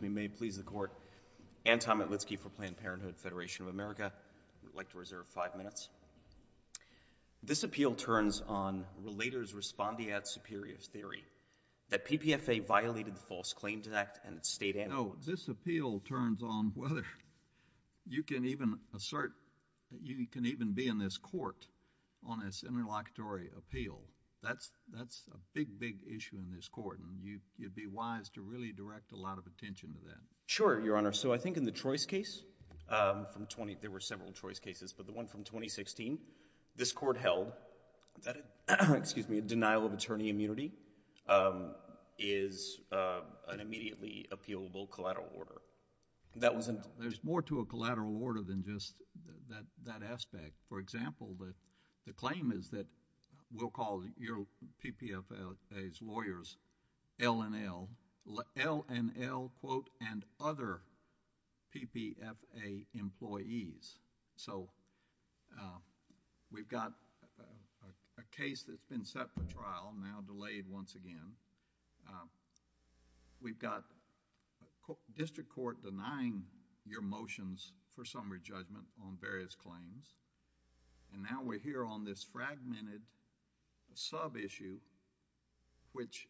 May it please the Court, Anton Matlitsky for Planned Parenthood Federation of America. I'd like to reserve five minutes. This appeal turns on Relator's Respondiat Superior's theory that PPFA violated the False Claims Act and its state amendment. No, this appeal turns on whether. You can even assert, you can even be in this Court on this interlocutory appeal. That's a big, big issue in this Court, and you'd be wise to really direct a lot of attention to that. Sure, Your Honor. So I think in the Troyes case, there were several Troyes cases, but the one from 2016, this Court held that a denial of attorney immunity is an immediately appealable collateral order. There's more to a collateral order than just that aspect. For example, the claim is that we'll call your PPFA's lawyers L and L, L and L, quote, and other PPFA employees. So we've got a case that's been set for trial, now delayed once again. We've got a district court denying your motions for summary judgment on various claims, and now we're here on this fragmented sub-issue, which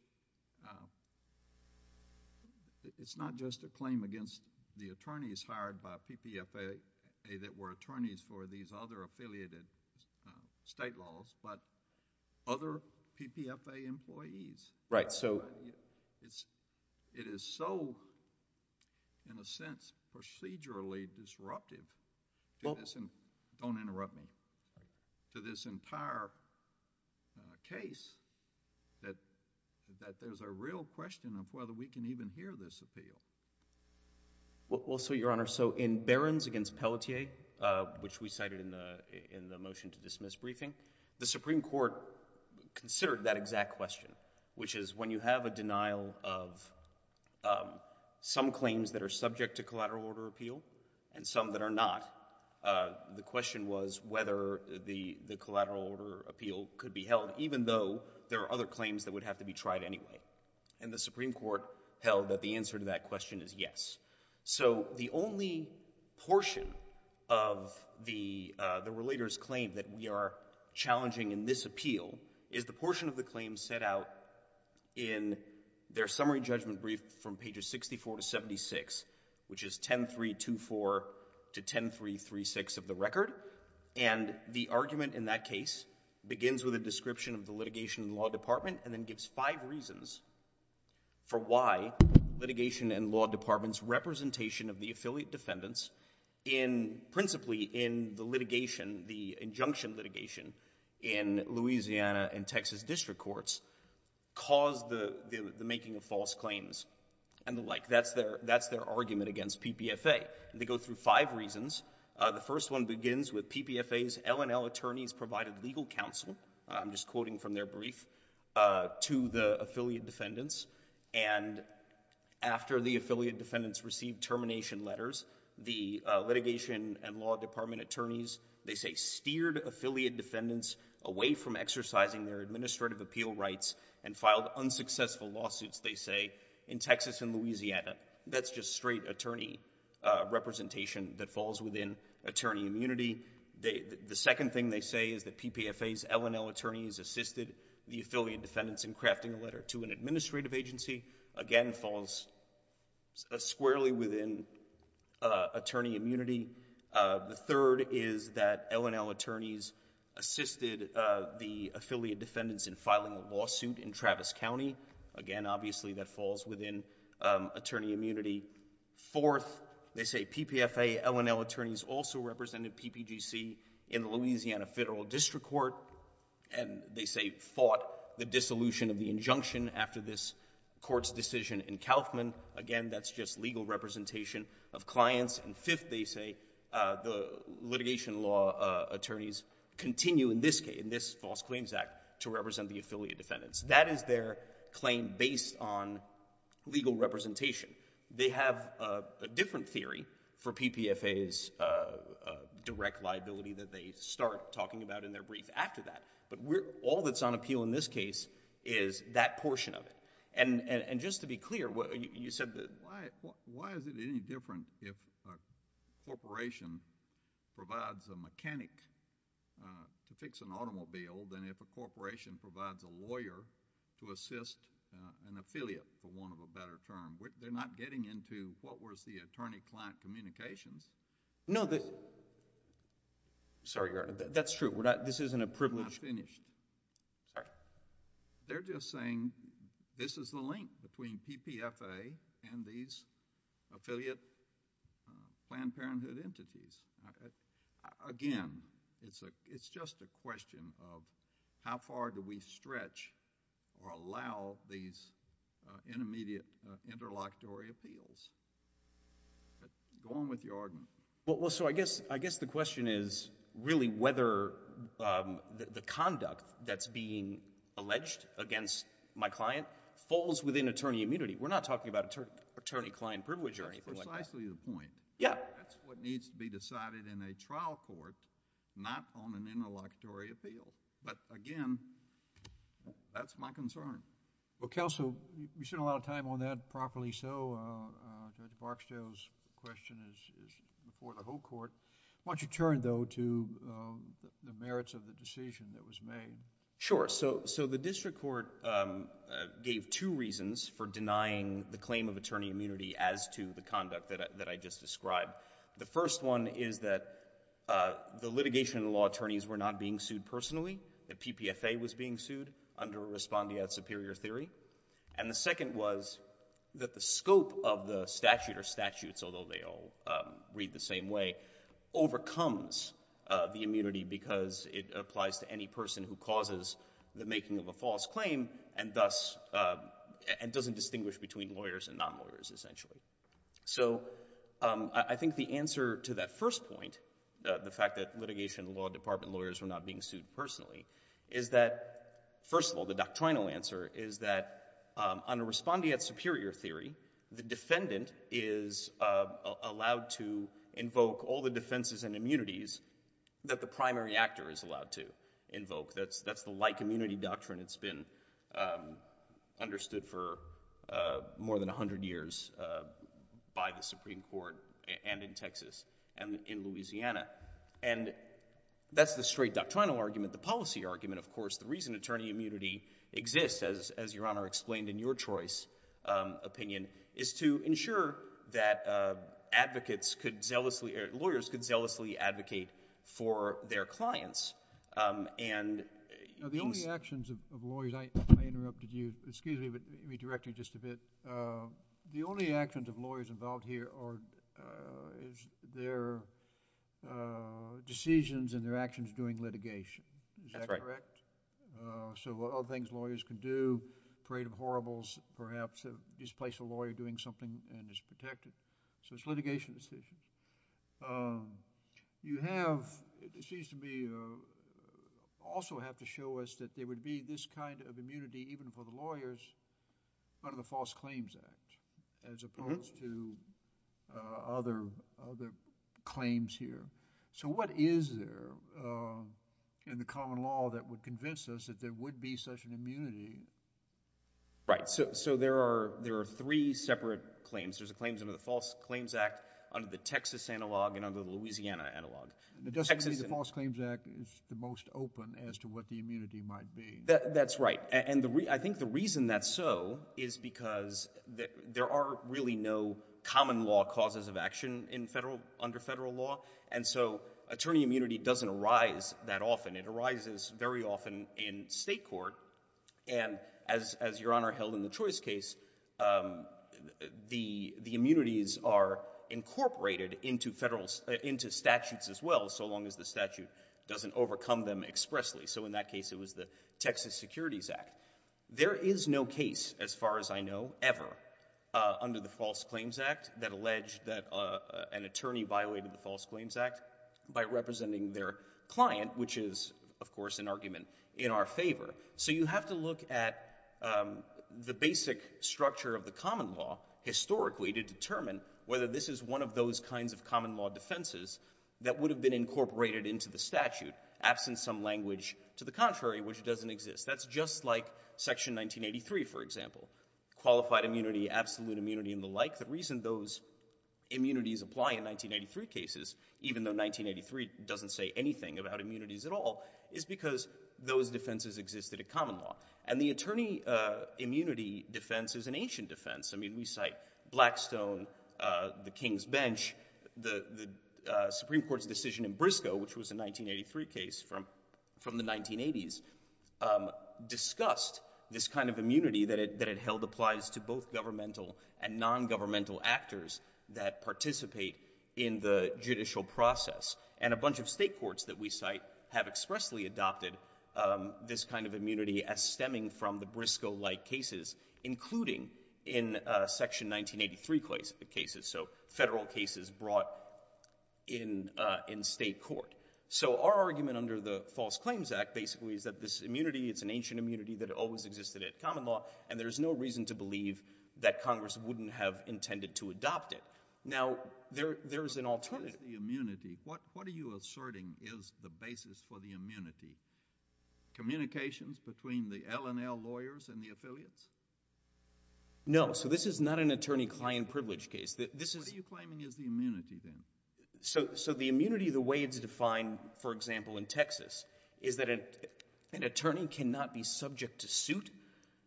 it's not just a claim against the attorneys hired by PPFA that were attorneys for these other affiliated state laws, but other PPFA employees. Right, so... It is so, in a sense, procedurally disruptive to this, and don't interrupt me, to this entire case that there's a real question of whether we can even hear this appeal. Well, so Your Honor, so in Barron's against Pelletier, which we cited in the motion to which is when you have a denial of some claims that are subject to collateral order appeal and some that are not, the question was whether the collateral order appeal could be held, even though there are other claims that would have to be tried anyway. And the Supreme Court held that the answer to that question is yes. So the only portion of the relator's claim that we are challenging in this appeal is the portion of the claim set out in their summary judgment brief from pages 64 to 76, which is 10.324 to 10.336 of the record. And the argument in that case begins with a description of the litigation in the law department and then gives five reasons for why litigation in law departments' representation of the affiliate defendants in, principally in the litigation, the injunction litigation in Louisiana and Texas district courts caused the making of false claims and the like. That's their argument against PPFA. They go through five reasons. The first one begins with PPFA's L&L attorneys provided legal counsel, I'm just quoting from their brief, to the affiliate defendants. And after the affiliate defendants received termination letters, the litigation and law department attorneys, they say, steered affiliate defendants away from exercising their administrative appeal rights and filed unsuccessful lawsuits, they say, in Texas and Louisiana. That's just straight attorney representation that falls within attorney immunity. The second thing they say is that PPFA's L&L attorneys assisted the affiliate defendants in crafting a letter to an administrative agency, again, falls squarely within attorney immunity. The third is that L&L attorneys assisted the affiliate defendants in filing a lawsuit in Travis County, again, obviously, that falls within attorney immunity. Fourth, they say PPFA L&L attorneys also represented PPGC in the Louisiana Federal District Court and they say fought the dissolution of the injunction after this court's decision in Kaufman. Again, that's just legal representation of clients. And fifth, they say, the litigation law attorneys continue in this case, in this False Claims Act, to represent the affiliate defendants. That is their claim based on legal representation. They have a different theory for PPFA's direct liability that they start talking about in their brief after that. But all that's on appeal in this case is that portion of it. And just to be clear, you said that— If a corporation provides a mechanic to fix an automobile, then if a corporation provides a lawyer to assist an affiliate, for want of a better term, they're not getting into what was the attorney-client communications. No, the— Sorry, Your Honor. That's true. We're not— This isn't a privilege— I'm finished. Sorry. They're just saying this is the link between PPFA and these affiliate Planned Parenthood entities. Again, it's just a question of how far do we stretch or allow these intermediate interlocutory appeals. Go on with your argument. Well, so I guess the question is really whether the conduct that's being alleged against my client falls within attorney immunity. We're not talking about attorney-client privilege or anything like that. That's precisely the point. Yeah. That's what needs to be decided in a trial court, not on an interlocutory appeal. But again, that's my concern. Well, counsel, we've spent a lot of time on that. Properly so. Judge Barksdale's question is before the whole court. Why don't you turn, though, to the merits of the decision that was made? Sure. So the district court gave two reasons for denying the claim of attorney immunity as to the conduct that I just described. The first one is that the litigation and the law attorneys were not being sued personally, that PPFA was being sued under a respondeat superior theory. And the second was that the scope of the statute or statutes, although they all read the same way, overcomes the immunity because it applies to any person who causes the making of a false claim and doesn't distinguish between lawyers and non-lawyers, essentially. So I think the answer to that first point, the fact that litigation and the law department lawyers were not being sued personally, is that, first of all, the doctrinal answer is that under respondeat superior theory, the defendant is allowed to invoke all the defenses and immunities that the primary actor is allowed to invoke. That's the like immunity doctrine that's been understood for more than 100 years by the Supreme Court and in Texas and in Louisiana. And that's the straight doctrinal argument. The policy argument, of course, the reason attorney immunity exists, as Your Honor explained in your choice opinion, is to ensure that advocates could zealously, or lawyers could zealously advocate for their clients. And these- The only actions of lawyers, I interrupted you, excuse me, but redirecting just a bit. The only actions of lawyers involved here is their decisions and their actions during litigation. Is that correct? That's right. So all things lawyers can do, parade of horribles, perhaps displace a lawyer doing something and is protected. So it's litigation decisions. You have, it seems to me, also have to show us that there would be this kind of immunity even for the lawyers under the False Claims Act as opposed to other claims here. So what is there in the common law that would convince us that there would be such an immunity? Right. So there are three separate claims. There's a claims under the False Claims Act, under the Texas analog, and under the Louisiana analog. It doesn't mean the False Claims Act is the most open as to what the immunity might be. That's right. And I think the reason that's so is because there are really no common law causes of action in federal, under federal law. And so attorney immunity doesn't arise that often. It arises very often in state court. And as Your Honor held in the Troy's case, the immunities are incorporated into federal, into statutes as well, so long as the statute doesn't overcome them expressly. So in that case, it was the Texas Securities Act. There is no case, as far as I know, ever under the False Claims Act that alleged that an attorney violated the False Claims Act by representing their client, which is, of course, an argument in our favor. So you have to look at the basic structure of the common law historically to determine whether this is one of those kinds of common law defenses that would have been incorporated into the statute, absent some language to the contrary, which doesn't exist. That's just like Section 1983, for example. Qualified immunity, absolute immunity, and the like, the reason those immunities apply in 1983 cases, even though 1983 doesn't say anything about immunities at all, is because those defenses existed in common law. And the attorney immunity defense is an ancient defense. I mean, we cite Blackstone, the King's Bench, the Supreme Court's decision in Briscoe, which was a 1983 case from the 1980s, discussed this kind of immunity that it held applies to both governmental and nongovernmental actors that participate in the judicial process. And a bunch of state courts that we cite have expressly adopted this kind of immunity as stemming from the Briscoe-like cases, including in Section 1983 cases, so federal cases brought in state court. So our argument under the False Claims Act, basically, is that this immunity, it's an ancient immunity that always existed in common law, and there's no reason to believe that Congress wouldn't have intended to adopt it. Now, there is an alternative. What is the immunity? What are you asserting is the basis for the immunity? Communications between the L&L lawyers and the affiliates? No, so this is not an attorney-client privilege case. What are you claiming is the immunity, then? So the immunity, the way it's defined, for example, in Texas, is that an attorney cannot be subject to suit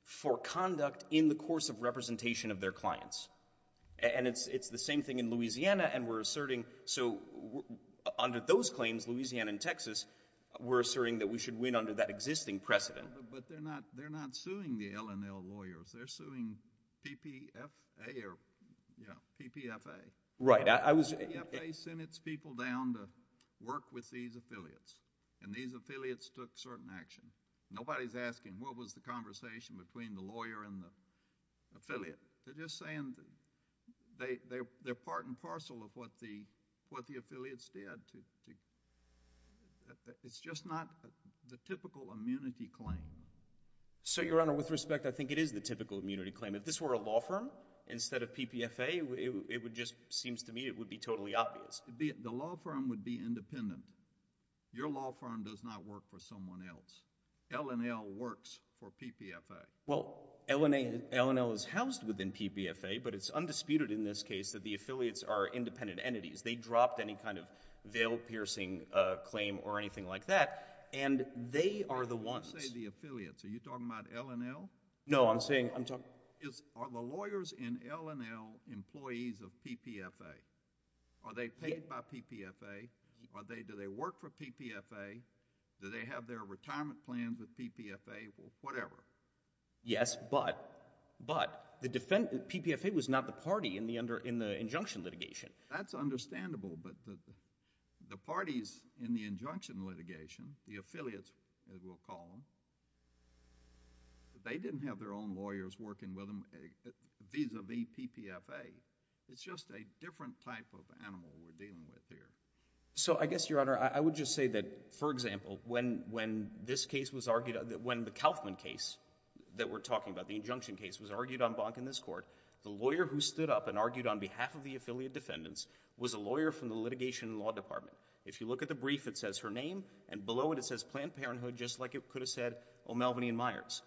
for conduct in the course of representation of their clients. And it's the same thing in Louisiana, and we're asserting, so under those claims, Louisiana and Texas, we're asserting that we should win under that existing precedent. But they're not suing the L&L lawyers. They're suing PPFA or, you know, PPFA. Right. I was... PPFA sent its people down to work with these affiliates, and these affiliates took certain action. Nobody's asking, what was the conversation between the lawyer and the affiliate? They're just saying that they're part and parcel of what the affiliates did to... It's just not the typical immunity claim. So, Your Honor, with respect, I think it is the typical immunity claim. If this were a law firm instead of PPFA, it would just... seems to me it would be totally obvious. The law firm would be independent. Your law firm does not work for someone else. L&L works for PPFA. Well, L&L is housed within PPFA, but it's undisputed in this case that the affiliates are independent entities. They dropped any kind of veil-piercing claim or anything like that, and they are the ones. You say the affiliates. Are you talking about L&L? No. I'm saying... I'm talking... Are the lawyers in L&L employees of PPFA? Are they paid by PPFA? Do they work for PPFA? Do they have their retirement plans with PPFA? Whatever. Yes, but the PPFA was not the party in the injunction litigation. That's understandable, but the parties in the injunction litigation, the affiliates, as we'll call them, they didn't have their own lawyers working with them vis-à-vis PPFA. It's just a different type of animal we're dealing with here. So I guess, Your Honor, I would just say that, for example, when this case was argued... when the Kaufman case that we're talking about, the injunction case, was argued on bonk in this court, the lawyer who stood up and argued on behalf of the affiliate defendants was a lawyer from the litigation and law department. If you look at the brief, it says her name, and below it, it says Planned Parenthood, just like it could have said O'Melveny & Myers.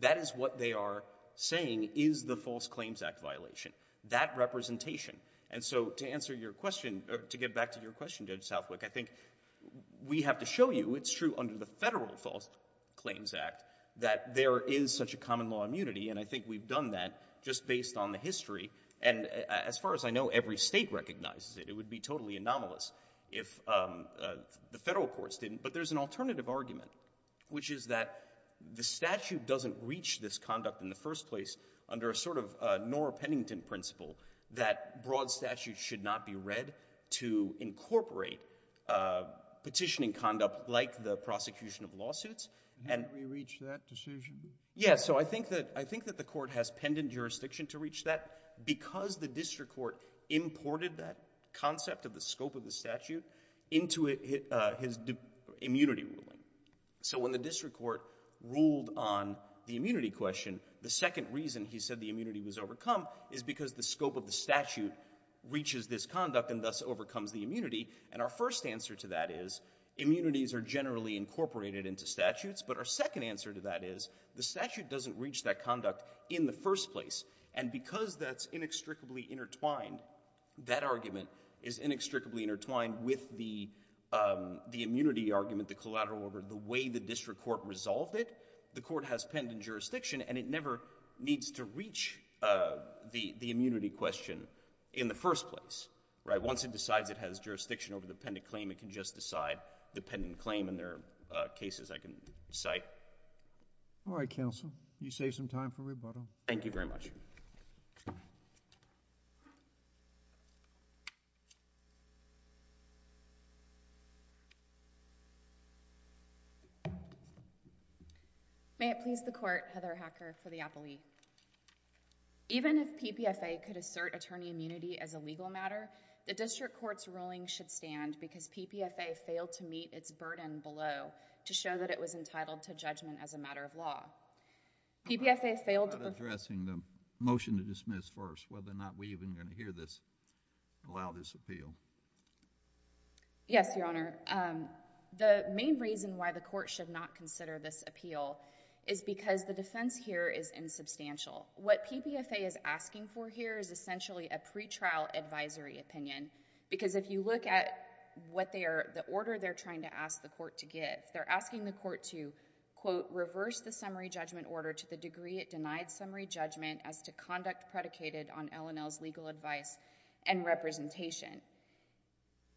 That is what they are saying is the False Claims Act violation, that representation. And so, to answer your question... to get back to your question, Judge Southwick, I think we have to show you it's true under the federal False Claims Act that there is such a common law immunity, and I think we've done that just based on the history. And as far as I know, every state recognizes it. It would be totally anomalous if the federal courts didn't. But there's an alternative argument, which is that the statute doesn't reach this conduct in the first place under a sort of Norah Pennington principle, that broad statutes should not be read to incorporate petitioning conduct like the prosecution of lawsuits. And... Didn't we reach that decision? Yeah, so I think that the court has pendant jurisdiction to reach that because the district court imported that concept of the scope of the statute into his immunity ruling. So when the district court ruled on the immunity question, the second reason he said the immunity was overcome is because the scope of the statute reaches this conduct and thus overcomes the immunity. And our first answer to that is, immunities are generally incorporated into statutes, but our second answer to that is, the statute doesn't reach that conduct in the first place. And because that's inextricably intertwined, that argument is inextricably intertwined with the immunity argument, the collateral order, the way the district court resolved it, the court has pendant jurisdiction and it never needs to reach the immunity question in the first place. Right? Once it decides it has jurisdiction over the pendant claim, it can just decide the pendant claim and there are cases I can cite. All right, counsel. You saved some time for rebuttal. Thank you very much. May it please the Court, Heather Hacker for the appellee. Even if PPFA could assert attorney immunity as a legal matter, the district court's ruling should stand because PPFA failed to meet its burden below to show that it was entitled to judgment as a matter of law. PPFA failed to... I'm not addressing the motion to dismiss first, whether or not we're even going to hear this... allow this appeal. Yes, Your Honor. The main reason why the court should not consider this appeal is because the defense here is insubstantial. What PPFA is asking for here is essentially a pretrial advisory opinion because if you look at what they are... the order they're trying to ask the court to give, they're asking the court to, quote, reverse the summary judgment order to the degree it denied summary judgment as to conduct predicated on L&L's legal advice and representation.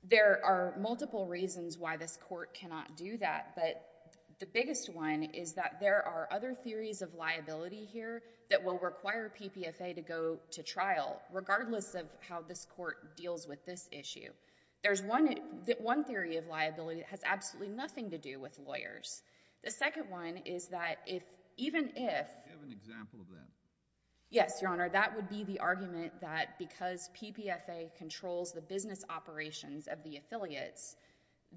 There are multiple reasons why this court cannot do that, but the biggest one is that there are other theories of liability here that will require PPFA to go to trial, regardless of how this court deals with this issue. There's one theory of liability that has absolutely nothing to do with lawyers. The second one is that if... even if... Do you have an example of that? Yes, Your Honor. That would be the argument that because PPFA controls the business operations of the affiliates,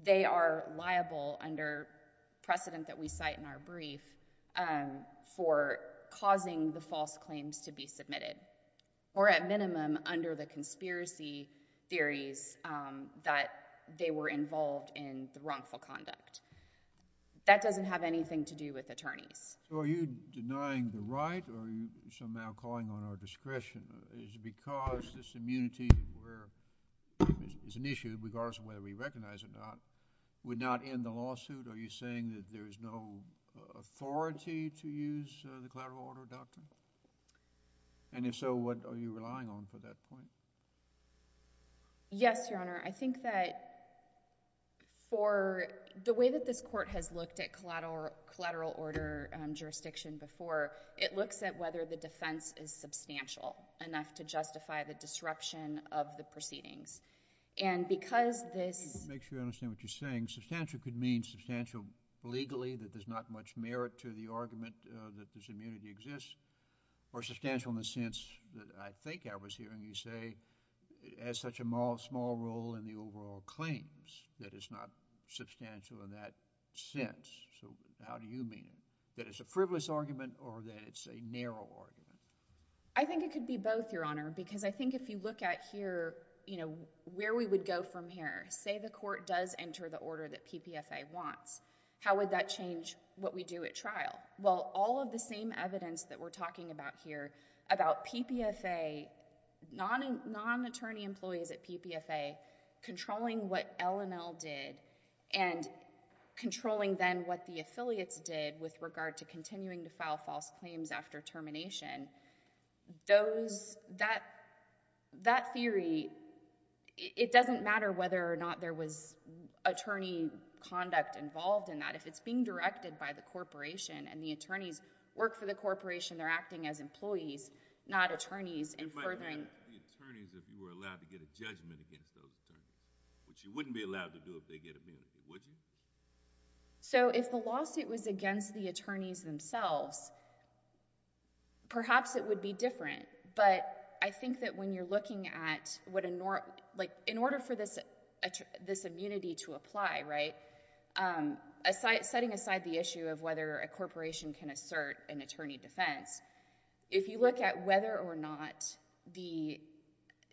they are liable under precedent that we cite in our brief for causing the false claims to be submitted, or at minimum, under the conspiracy theories that they were involved in the wrongful conduct. That doesn't have anything to do with attorneys. So are you denying the right or are you somehow calling on our discretion? Is it because this immunity is an issue, regardless of whether we recognize it or not, would not end the lawsuit? Are you saying that there is no authority to use the collateral order doctrine? And if so, what are you relying on for that point? Yes, Your Honor. I think that for... the way that this court has looked at collateral order jurisdiction before, it looks at whether the defense is substantial enough to justify the disruption of the proceedings. And because this... Just to make sure I understand what you're saying, substantial could mean substantial legally, that there's not much merit to the argument that this immunity exists, or substantial in the sense that I think I was hearing you say it has such a small role in the overall claims that it's not substantial in that sense. So how do you mean it? That it's a frivolous argument or that it's a narrow argument? I think it could be both, Your Honor, because I think if you look at here, you know, where we would go from here, say the court does enter the order that PPFA wants. How would that change what we do at trial? Well, all of the same evidence that we're talking about here about PPFA, non-attorney employees at PPFA controlling what L&L did and controlling then what the affiliates did with regard to continuing to file false claims after termination, those... that theory, it doesn't matter whether or not there was attorney conduct involved in that. If it's being directed by the corporation and the attorneys work for the corporation, they're acting as employees, not attorneys and furthering... It might be the attorneys if you were allowed to get a judgment against those attorneys, which you wouldn't be allowed to do if they get immunity, would you? If the lawsuit was against the attorneys themselves, perhaps it would be different, but I think that when you're looking at what a... in order for this immunity to apply, setting aside the issue of whether a corporation can assert an attorney defense, if you look at whether or not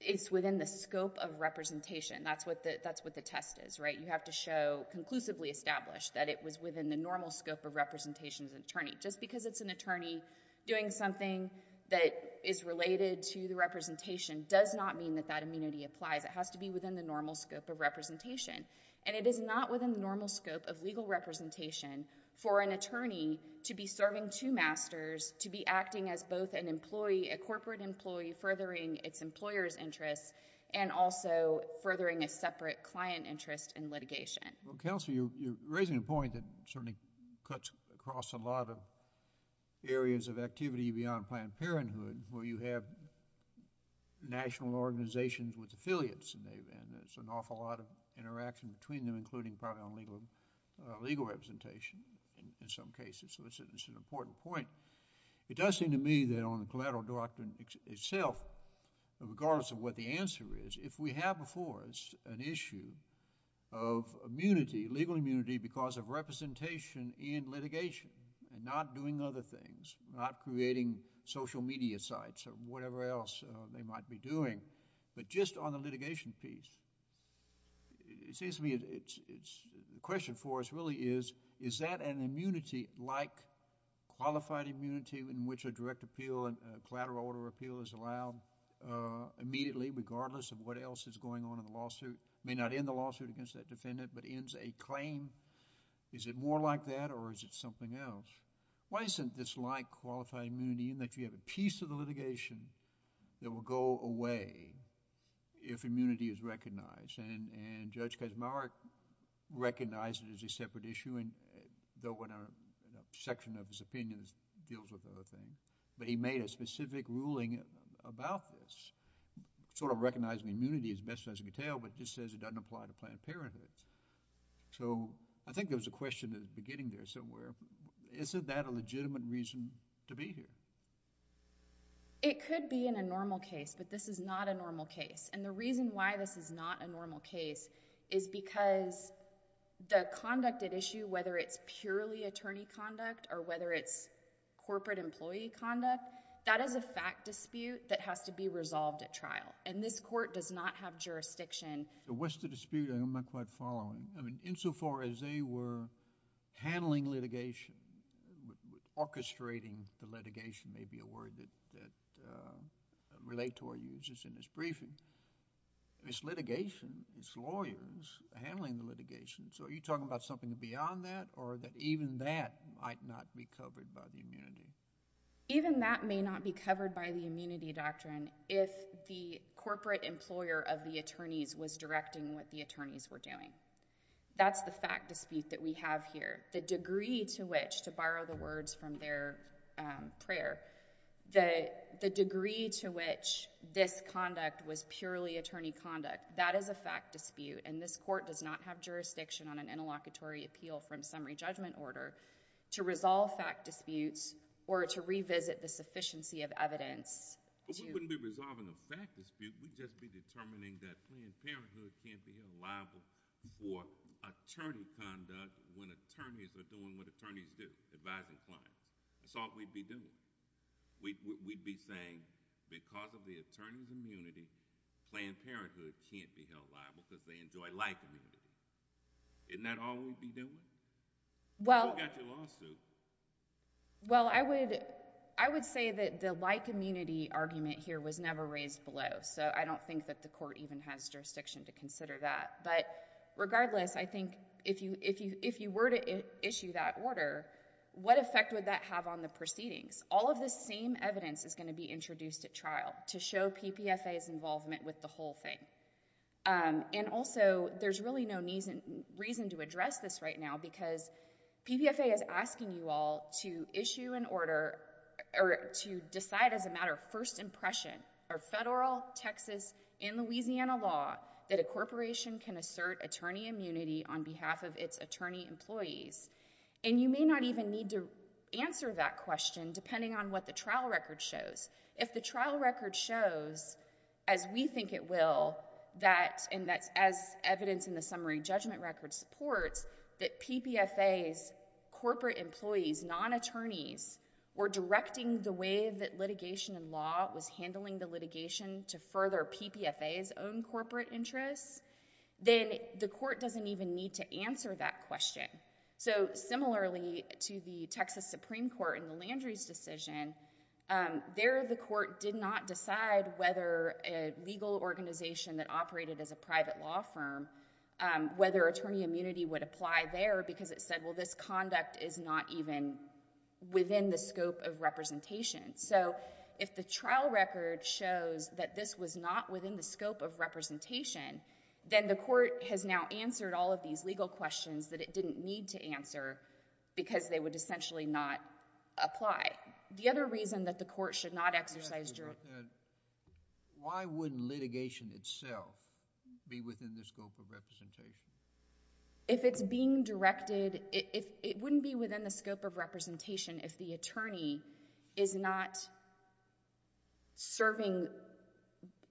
it's within the scope of representation, that's what the test is, you have to show conclusively established that it was within the normal scope of representation as an attorney. Just because it's an attorney doing something that is related to the representation does not mean that that immunity applies. It has to be within the normal scope of representation. It is not within the normal scope of legal representation for an attorney to be serving two masters, to be acting as both an employee, a corporate employee, furthering its employer's role. Well, Counselor, you're raising a point that certainly cuts across a lot of areas of activity beyond Planned Parenthood where you have national organizations with affiliates, and there's an awful lot of interaction between them, including probably on legal representation in some cases, so it's an important point. It does seem to me that on the collateral doctrine itself, regardless of what the answer is, if we have before us an issue of immunity, legal immunity, because of representation in litigation and not doing other things, not creating social media sites or whatever else they might be doing, but just on the litigation piece, it seems to me the question for us really is, is that an immunity like qualified immunity in which a direct appeal and collateral order appeal is allowed immediately regardless of what else is going on in the lawsuit, may not end the lawsuit against that defendant, but ends a claim? Is it more like that or is it something else? Why isn't this like qualified immunity in that you have a piece of the litigation that will go away if immunity is recognized? And Judge Kazmaier recognized it as a separate issue, though in a section of his opinion it deals with other things, but he made a specific ruling about this, sort of recognizing immunity as best as he could tell, but just says it doesn't apply to Planned Parenthood. So I think there was a question at the beginning there somewhere. Isn't that a legitimate reason to be here? It could be in a normal case, but this is not a normal case, and the reason why this is not a normal case is because the conduct at issue, whether it's purely attorney conduct or whether it's corporate employee conduct, that is a fact dispute that has to be resolved at trial, and this court does not have jurisdiction. What's the dispute I'm not quite following? Insofar as they were handling litigation, orchestrating the litigation may be a word that Relator uses in his briefing, it's litigation, it's lawyers handling the litigation. So are you talking about something beyond that, or that even that might not be covered by the immunity? Even that may not be covered by the immunity doctrine if the corporate employer of the attorneys was directing what the attorneys were doing. That's the fact dispute that we have here. The degree to which, to borrow the words from their prayer, the degree to which this conduct was purely attorney conduct, that is a fact dispute, and this court does not have jurisdiction on an interlocutory appeal from summary judgment order to resolve fact disputes or to revisit the sufficiency of evidence. We wouldn't be resolving a fact dispute. We'd just be determining that Planned Parenthood can't be liable for attorney conduct when attorneys are doing what attorneys do, advising clients. That's all we'd be doing. We'd be saying because of the attorney's immunity, Planned Parenthood can't be held liable because they enjoy life immunity. Isn't that all we'd be doing? That's what got you lawsuits. Well, I would say that the like immunity argument here was never raised below, so I don't think that the court even has jurisdiction to consider that, but regardless, I think if you were to issue that order, what effect would that have on the proceedings? All of this same evidence is going to be introduced at trial to show PPFA's involvement with the whole thing, and also, there's really no reason to address this right now because PPFA is asking you all to issue an order or to decide as a matter of first impression, or federal, Texas, and Louisiana law, that a corporation can assert attorney immunity on behalf of its attorney employees, and you may not even need to answer that question depending on what the trial record shows. If the trial record shows, as we think it will, and that's as evidence in the summary judgment record supports, that PPFA's corporate employees, non-attorneys, were directing the way that litigation and law was handling the litigation to further PPFA's own corporate interests, then the court doesn't even need to answer that question. So similarly to the Texas Supreme Court in the Landry's decision, there the court did not decide whether a legal organization that operated as a private law firm, whether attorney immunity would apply there because it said, well, this conduct is not even within the scope of representation. So if the trial record shows that this was not within the scope of representation, then the court has now answered all of these legal questions that it didn't need to answer because they would essentially not apply. The other reason that the court should not exercise... Why wouldn't litigation itself be within the scope of representation? If it's being directed, it wouldn't be within the scope of representation if the court is not serving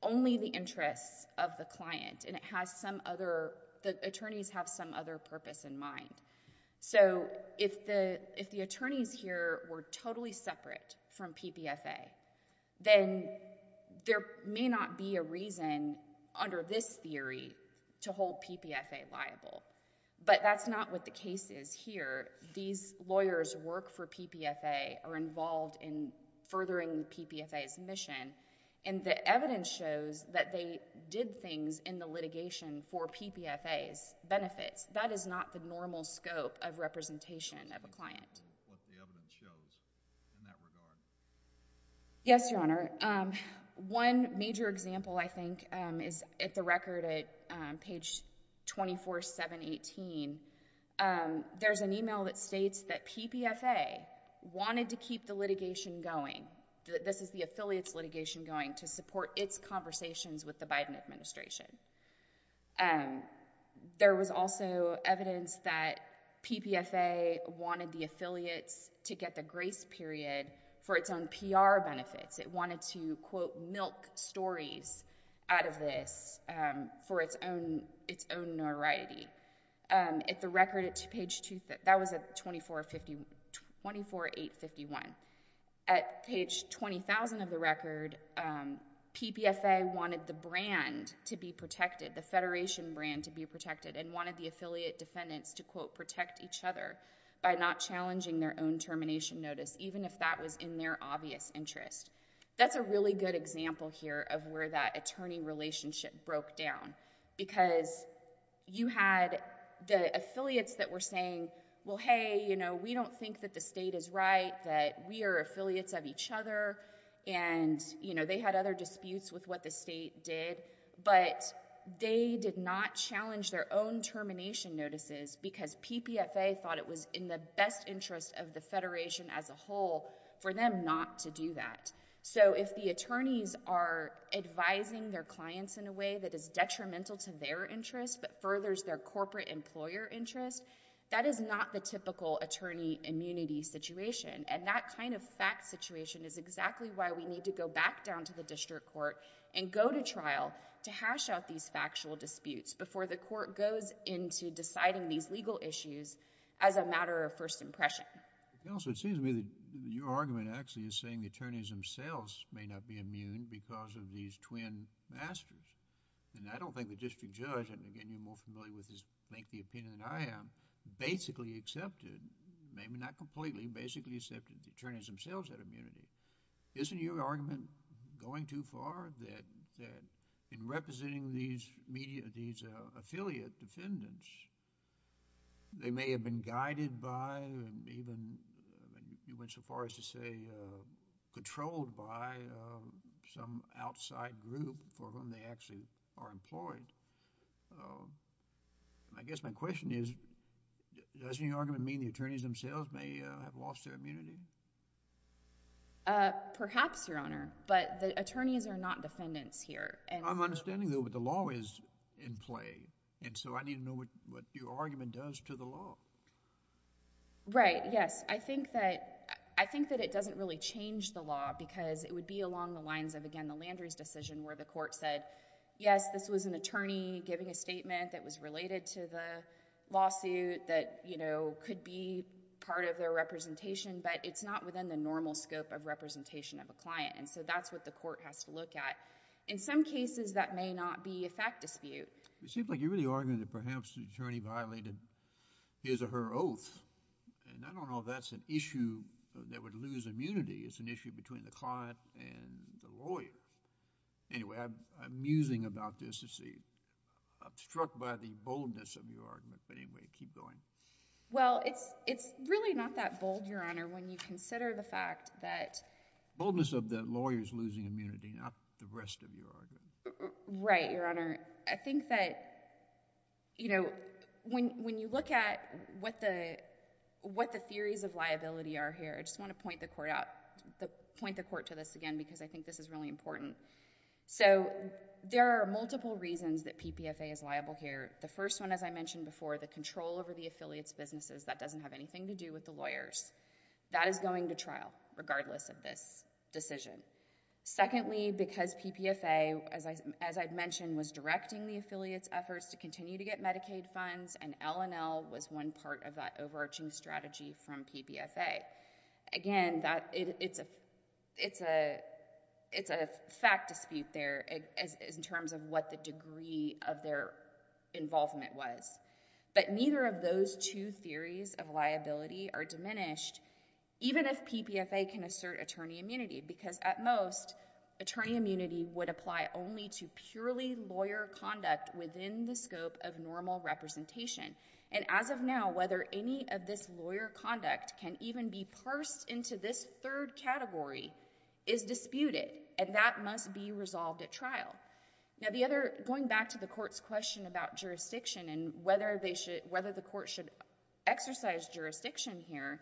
only the interests of the client and it has some other... the attorneys have some other purpose in mind. So if the attorneys here were totally separate from PPFA, then there may not be a reason under this theory to hold PPFA liable, but that's not what the case is here. These lawyers work for PPFA, are involved in furthering PPFA's mission, and the evidence shows that they did things in the litigation for PPFA's benefits. That is not the normal scope of representation of a client. What the evidence shows in that regard? Yes, Your Honor. One major example, I think, is at the record at page 24, 718. There's an email that states that PPFA wanted to keep the litigation going. This is the affiliates litigation going to support its conversations with the Biden administration. There was also evidence that PPFA wanted the affiliates to get the grace period for its own PR benefits. It wanted to, quote, milk stories out of this for its own notoriety. At the record at page... that was at 24, 851. At page 20,000 of the record, PPFA wanted the brand to be protected, the federation brand to be protected, and wanted the affiliate defendants to, quote, protect each other by not challenging their own termination notice, even if that was in their obvious interest. That's a really good example here of where that attorney relationship broke down, because you had the affiliates that were saying, well, hey, we don't think that the state is right, that we are affiliates of each other, and they had other disputes with what the state did, but they did not challenge their own termination notices because PPFA thought it was in the best interest of the federation as a whole for them not to do that. If the attorneys are advising their clients in a way that is detrimental to their interest but furthers their corporate employer interest, that is not the typical attorney immunity situation. That kind of fact situation is exactly why we need to go back down to the district court and go to trial to hash out these factual disputes before the court goes into deciding these legal issues as a matter of first impression. Counsel, it seems to me that your argument actually is saying the attorneys themselves may not be immune because of these twin masters, and I don't think the district judge, and again, you're more familiar with his lengthy opinion than I am, basically accepted, maybe not completely, basically accepted the attorneys themselves had immunity. Isn't your argument going too far that in representing these affiliate defendants, they may have been guided by and even, you went so far as to say, controlled by some outside group for whom they actually are employed? I guess my question is, doesn't your argument mean the attorneys themselves may have lost their immunity? Perhaps, Your Honor, but the attorneys are not defendants here. I'm understanding though that the law is in play, and so I need to know what your argument does to the law. Right, yes. I think that it doesn't really change the law because it would be along the lines of, again, the Landrieu's decision where the court said, yes, this was an attorney giving a statement that was related to the lawsuit, that could be part of their representation, but it's not within the normal scope of representation of a client, and so that's what the court has to look at. In some cases, that may not be a fact dispute. It seems like you're really arguing that perhaps the attorney violated his or her oath, and I don't know if that's an issue that would lose immunity. It's an issue between the client and the lawyer. Anyway, I'm musing about this, you see. I'm struck by the boldness of your argument, but anyway, keep going. Well, it's really not that bold, Your Honor, when you consider the fact that... Boldness of the lawyer's losing immunity, not the rest of your argument. Right, Your Honor. I think that, you know, when you look at what the theories of liability are here, I just want to point the court to this again, because I think this is really important. So there are multiple reasons that PPFA is liable here. The first one, as I mentioned before, the control over the affiliates' businesses, that doesn't have anything to do with the lawyers. That is going to trial, regardless of this decision. Secondly, because PPFA, as I mentioned, was directing the affiliates' efforts to continue to get Medicaid funds, and L&L was one part of that overarching strategy from PPFA. Again, it's a fact dispute there, in terms of what the degree of their involvement was. But neither of those two theories of liability are diminished, even if PPFA can assert attorney immunity, because at most, attorney immunity would apply only to purely lawyer conduct within the scope of normal representation. And as of now, whether any of this lawyer conduct can even be parsed into this third category is disputed, and that must be resolved at trial. Now, going back to the court's question about jurisdiction and whether the court should exercise jurisdiction here,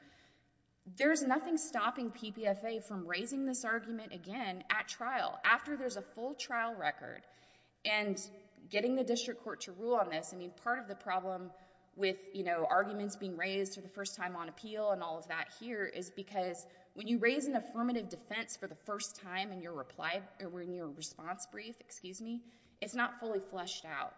there's nothing stopping PPFA from raising this argument again at trial, after there's a full trial record. And getting the district court to rule on this, I mean, part of the problem with arguments being raised for the first time on appeal and all of that here is because when you raise an affirmative defense for the first time in your response brief, excuse me, it's not fully fleshed out.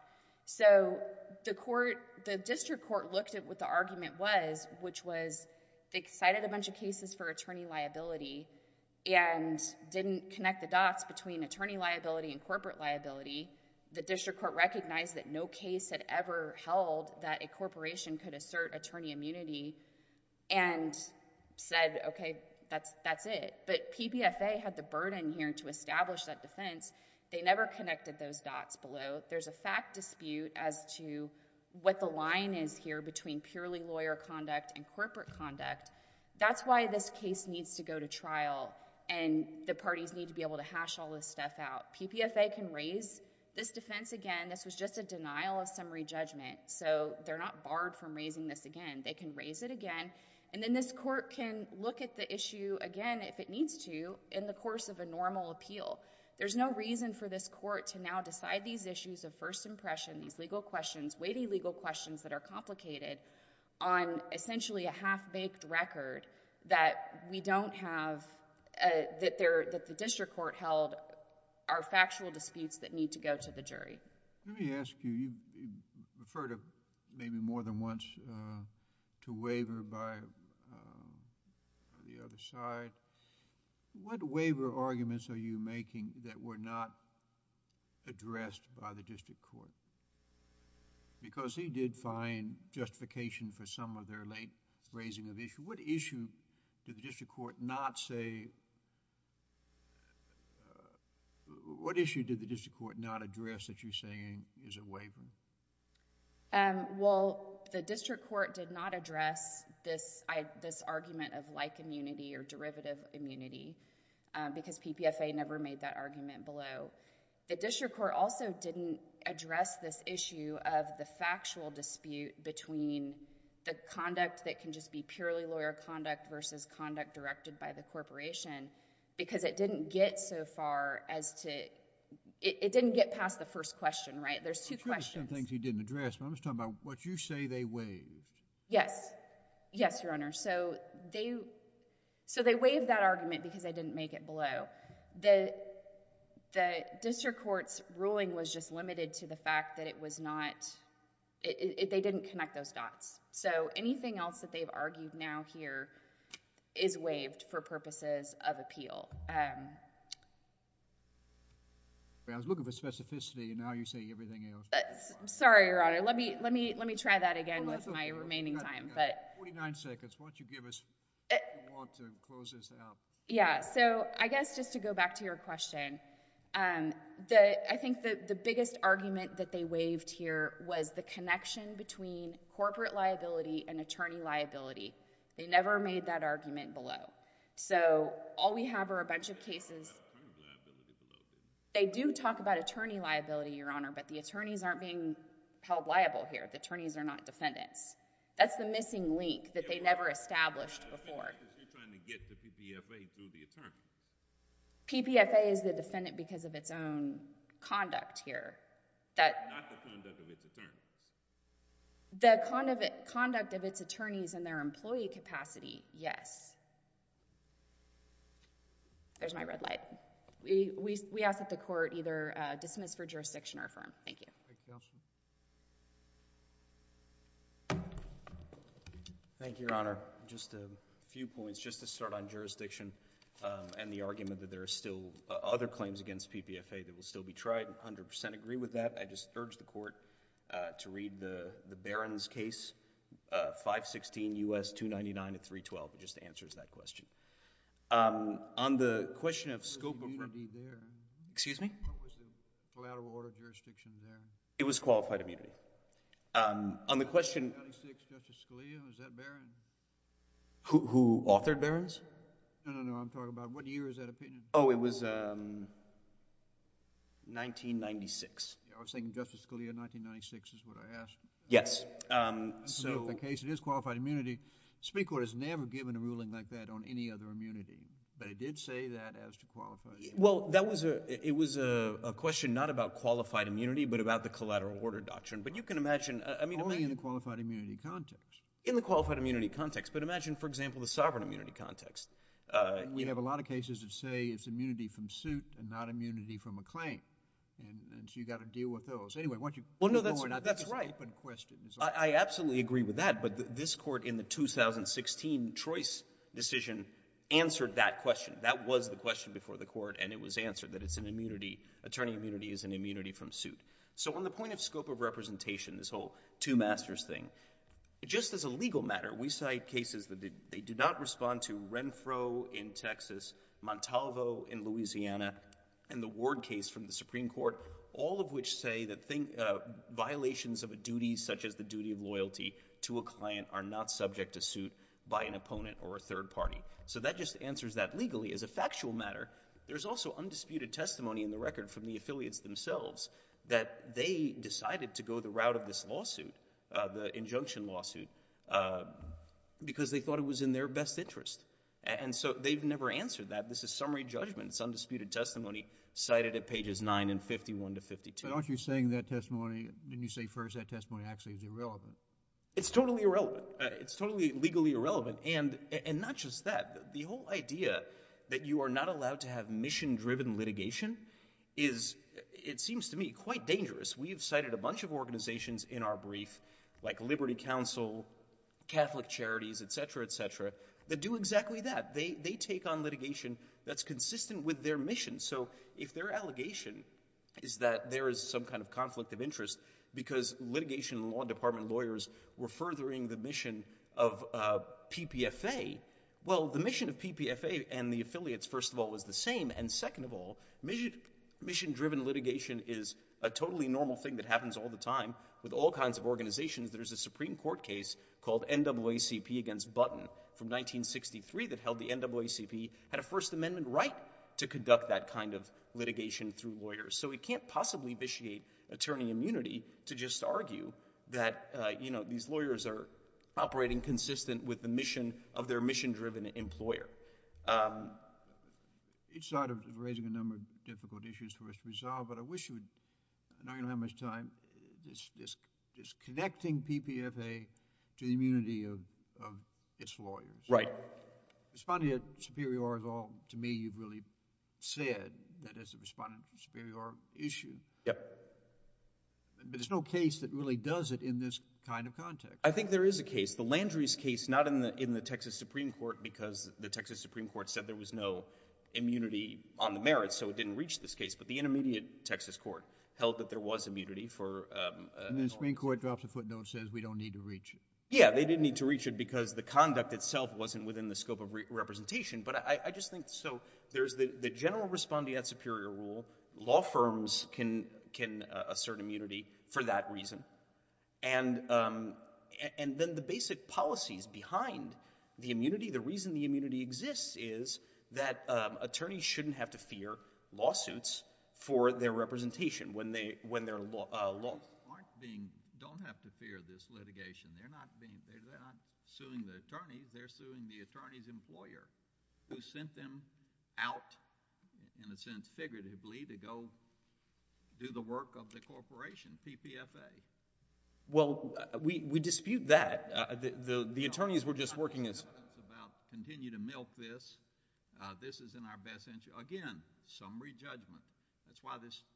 So the district court looked at what the argument was, which was they cited a bunch of cases for attorney liability and didn't connect the dots between attorney liability and corporate liability. The district court recognized that no case had ever held that a corporation could assert attorney immunity and said, okay, that's it. But PPFA had the burden here to establish that defense. They never connected those dots below. There's a fact dispute as to what the line is here between purely lawyer conduct and corporate conduct. That's why this case needs to go to trial and the parties need to be able to hash all this stuff out. PPFA can raise this defense again. This was just a denial of summary judgment, so they're not barred from raising this again. They can raise it again and then this court can look at the issue again if it needs to in the course of a normal appeal. There's no reason for this court to now decide these issues of first impression, these legal questions, weighty legal questions that are complicated on essentially a half-baked record that we don't have... that the district court held are factual disputes that need to go to the jury. Let me ask you, you've referred maybe more than once to waiver by the other side. What waiver arguments are you making that were not addressed by the district court because he did find justification for some of their late raising of issue? What issue did the district court not say... what issue did the district court not address that you're saying is a waiver? Well, the district court did not address this argument of like immunity or derivative immunity because PPFA never made that argument below. The district court also didn't address this issue of the factual dispute between the conduct that can just be purely lawyer conduct versus conduct directed by the corporation because it didn't get so far as to... it didn't get past the first question, right? There's two questions. I'm sure there's some things he didn't address, but I'm just talking about what you say they waived. Yes. Yes, Your Honor. So they waived that argument because they didn't make it below. The district court's ruling was just limited to the fact that it was not... they didn't connect those dots. So anything else that they've argued now here is waived for purposes of appeal. I was looking for specificity and now you're saying everything else. I'm sorry, Your Honor. Let me try that again with my remaining time, but... Forty-nine seconds. Why don't you give us... if you want to close this out. Yeah. So I guess just to go back to your question, I think that the biggest argument that they waived here was the connection between corporate liability and attorney liability. They never made that argument below. So all we have are a bunch of cases... They do talk about attorney liability, Your Honor, but the attorneys aren't being held liable here. The attorneys are not defendants. That's the missing link that they never established before. You're trying to get the PPFA through the attorney. PPFA is the defendant because of its own conduct here. Not the conduct of its attorneys. The conduct of its attorneys and their employee capacity, yes. There's my red light. We ask that the court either dismiss for jurisdiction or affirm. Thank you. Thank you, Your Honor. Just a few points. Just to start on jurisdiction and the argument that there are still other claims against PPFA that will still be tried. I 100% agree with that. I just urge the court to read the Barron's case, 516 U.S. 299 to 312. It just answers that question. On the question of scope... What was the immunity there? Excuse me? What was the collateral order of jurisdiction there? It was qualified immunity. On the question... Who authored Barron's? No, no, no. I'm talking about what year is that opinion? Oh, it was 1996. I was thinking Justice Scalia, 1996 is what I asked. Yes. So the case, it is qualified immunity. Supreme Court has never given a ruling like that on any other immunity, but it did say that as to qualified immunity. Well, it was a question not about qualified immunity, but about the collateral order doctrine. But you can imagine... Only in the qualified immunity context. In the qualified immunity context. But imagine, for example, the sovereign immunity context. We have a lot of cases that say it's immunity from suit and not immunity from a claim. And so you've got to deal with those. Anyway, once you... Well, no, that's right. I absolutely agree with that, but this court in the 2016 Troy's decision answered that question. That was the question before the court, and it was answered that it's an immunity, attorney immunity is an immunity from suit. So on the point of scope of representation, this whole two masters thing, just as a legal matter, we cite cases that they do not respond to Renfro in Texas, Montalvo in Louisiana, and the Ward case from the Supreme Court, all of which say that violations of a duty, such as the duty of loyalty to a client, are not subject to suit by an opponent or a third party. So that just answers that legally. As a factual matter, there's also undisputed testimony in the record from the affiliates themselves that they decided to go the route of this lawsuit, the injunction lawsuit, because they thought it was in their best interest. And so they've never answered that. This is summary judgment. It's undisputed testimony cited at pages 9 and 51 to 52. But aren't you saying that testimony, didn't you say first that testimony actually is irrelevant? It's totally irrelevant. It's totally legally irrelevant. And not just that, the whole idea that you are not allowed to have mission-driven litigation is, it seems to me, quite dangerous. We have cited a bunch of organizations in our brief, like Liberty Council, Catholic Charities, etc., etc., that do exactly that. They take on litigation that's consistent with their mission. So if their allegation is that there is some kind of conflict of interest because litigation and law department lawyers were furthering the mission of PPFA, well, the mission of PPFA and the affiliates, first of all, is the same. And second of all, mission-driven litigation is a totally normal thing that happens all the time with all kinds of organizations. There's a Supreme Court case called NAACP against Button from 1963 that held the NAACP had a First Amendment right to conduct that kind of litigation through lawyers. So we can't possibly vitiate attorney immunity to just argue that these lawyers are operating consistent with the mission of their mission-driven employer. It's sort of raising a number of difficult issues for us to resolve, but I wish you would, I know you don't have much time, disconnecting PPFA to the immunity of its lawyers. Right. Responding to Superior Law, to me, you've really said that as a respondent to a Superior Law issue. Yep. But there's no case that really does it in this kind of context. I think there is a case, the Landry's case, not in the Texas Supreme Court because the Texas Supreme Court said there was no immunity on the merits, so it didn't reach this case. But the intermediate Texas court held that there was immunity for... And the Supreme Court drops a footnote and says, we don't need to reach it. Yeah, they didn't need to reach it because the conduct itself wasn't within the scope of representation. But I just think, so there's the general respondee at Superior Rule, law firms can assert immunity for that reason. And then the basic policies behind the immunity, the reason the immunity exists is that attorneys shouldn't have to fear lawsuits for their representation when they're law... Lawyers aren't being, don't have to fear this litigation. They're not being, they're not suing the attorneys, they're suing the attorney's employer who sent them out, in a sense, figuratively to go do the work of the corporation, PPFA. Well, we dispute that. The attorneys were just working as... Continue to milk this. This is in our best interest. Again, summary judgment. That's why this,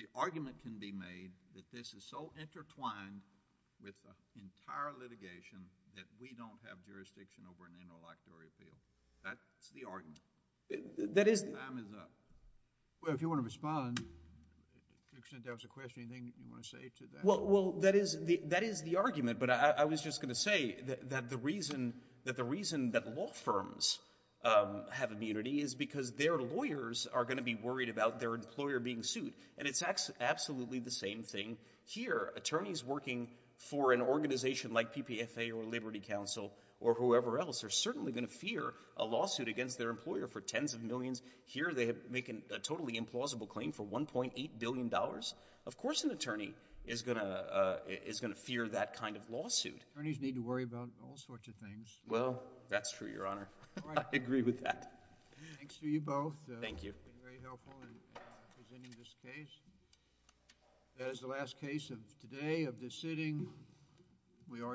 the argument can be made that this is so intertwined with the entire litigation that we don't have jurisdiction over an interlocutory appeal. That's the argument. That is... Time is up. Well, if you want to respond, to the extent that was a question, anything you want to say to that? Well, that is the argument. But I was just going to say that the reason that law firms have immunity is because their lawyers are going to be worried about their employer being sued. And it's absolutely the same thing here. Attorneys working for an organization like PPFA or Liberty Council or whoever else are certainly going to fear a lawsuit against their employer for tens of millions. Here, they make a totally implausible claim for $1.8 billion. Of course, an attorney is going to fear that kind of lawsuit. Attorneys need to worry about all sorts of things. Well, that's true, Your Honor. I agree with that. Thanks to you both. Thank you. Very helpful in presenting this case. That is the last case of today, of this sitting. We are adjourned.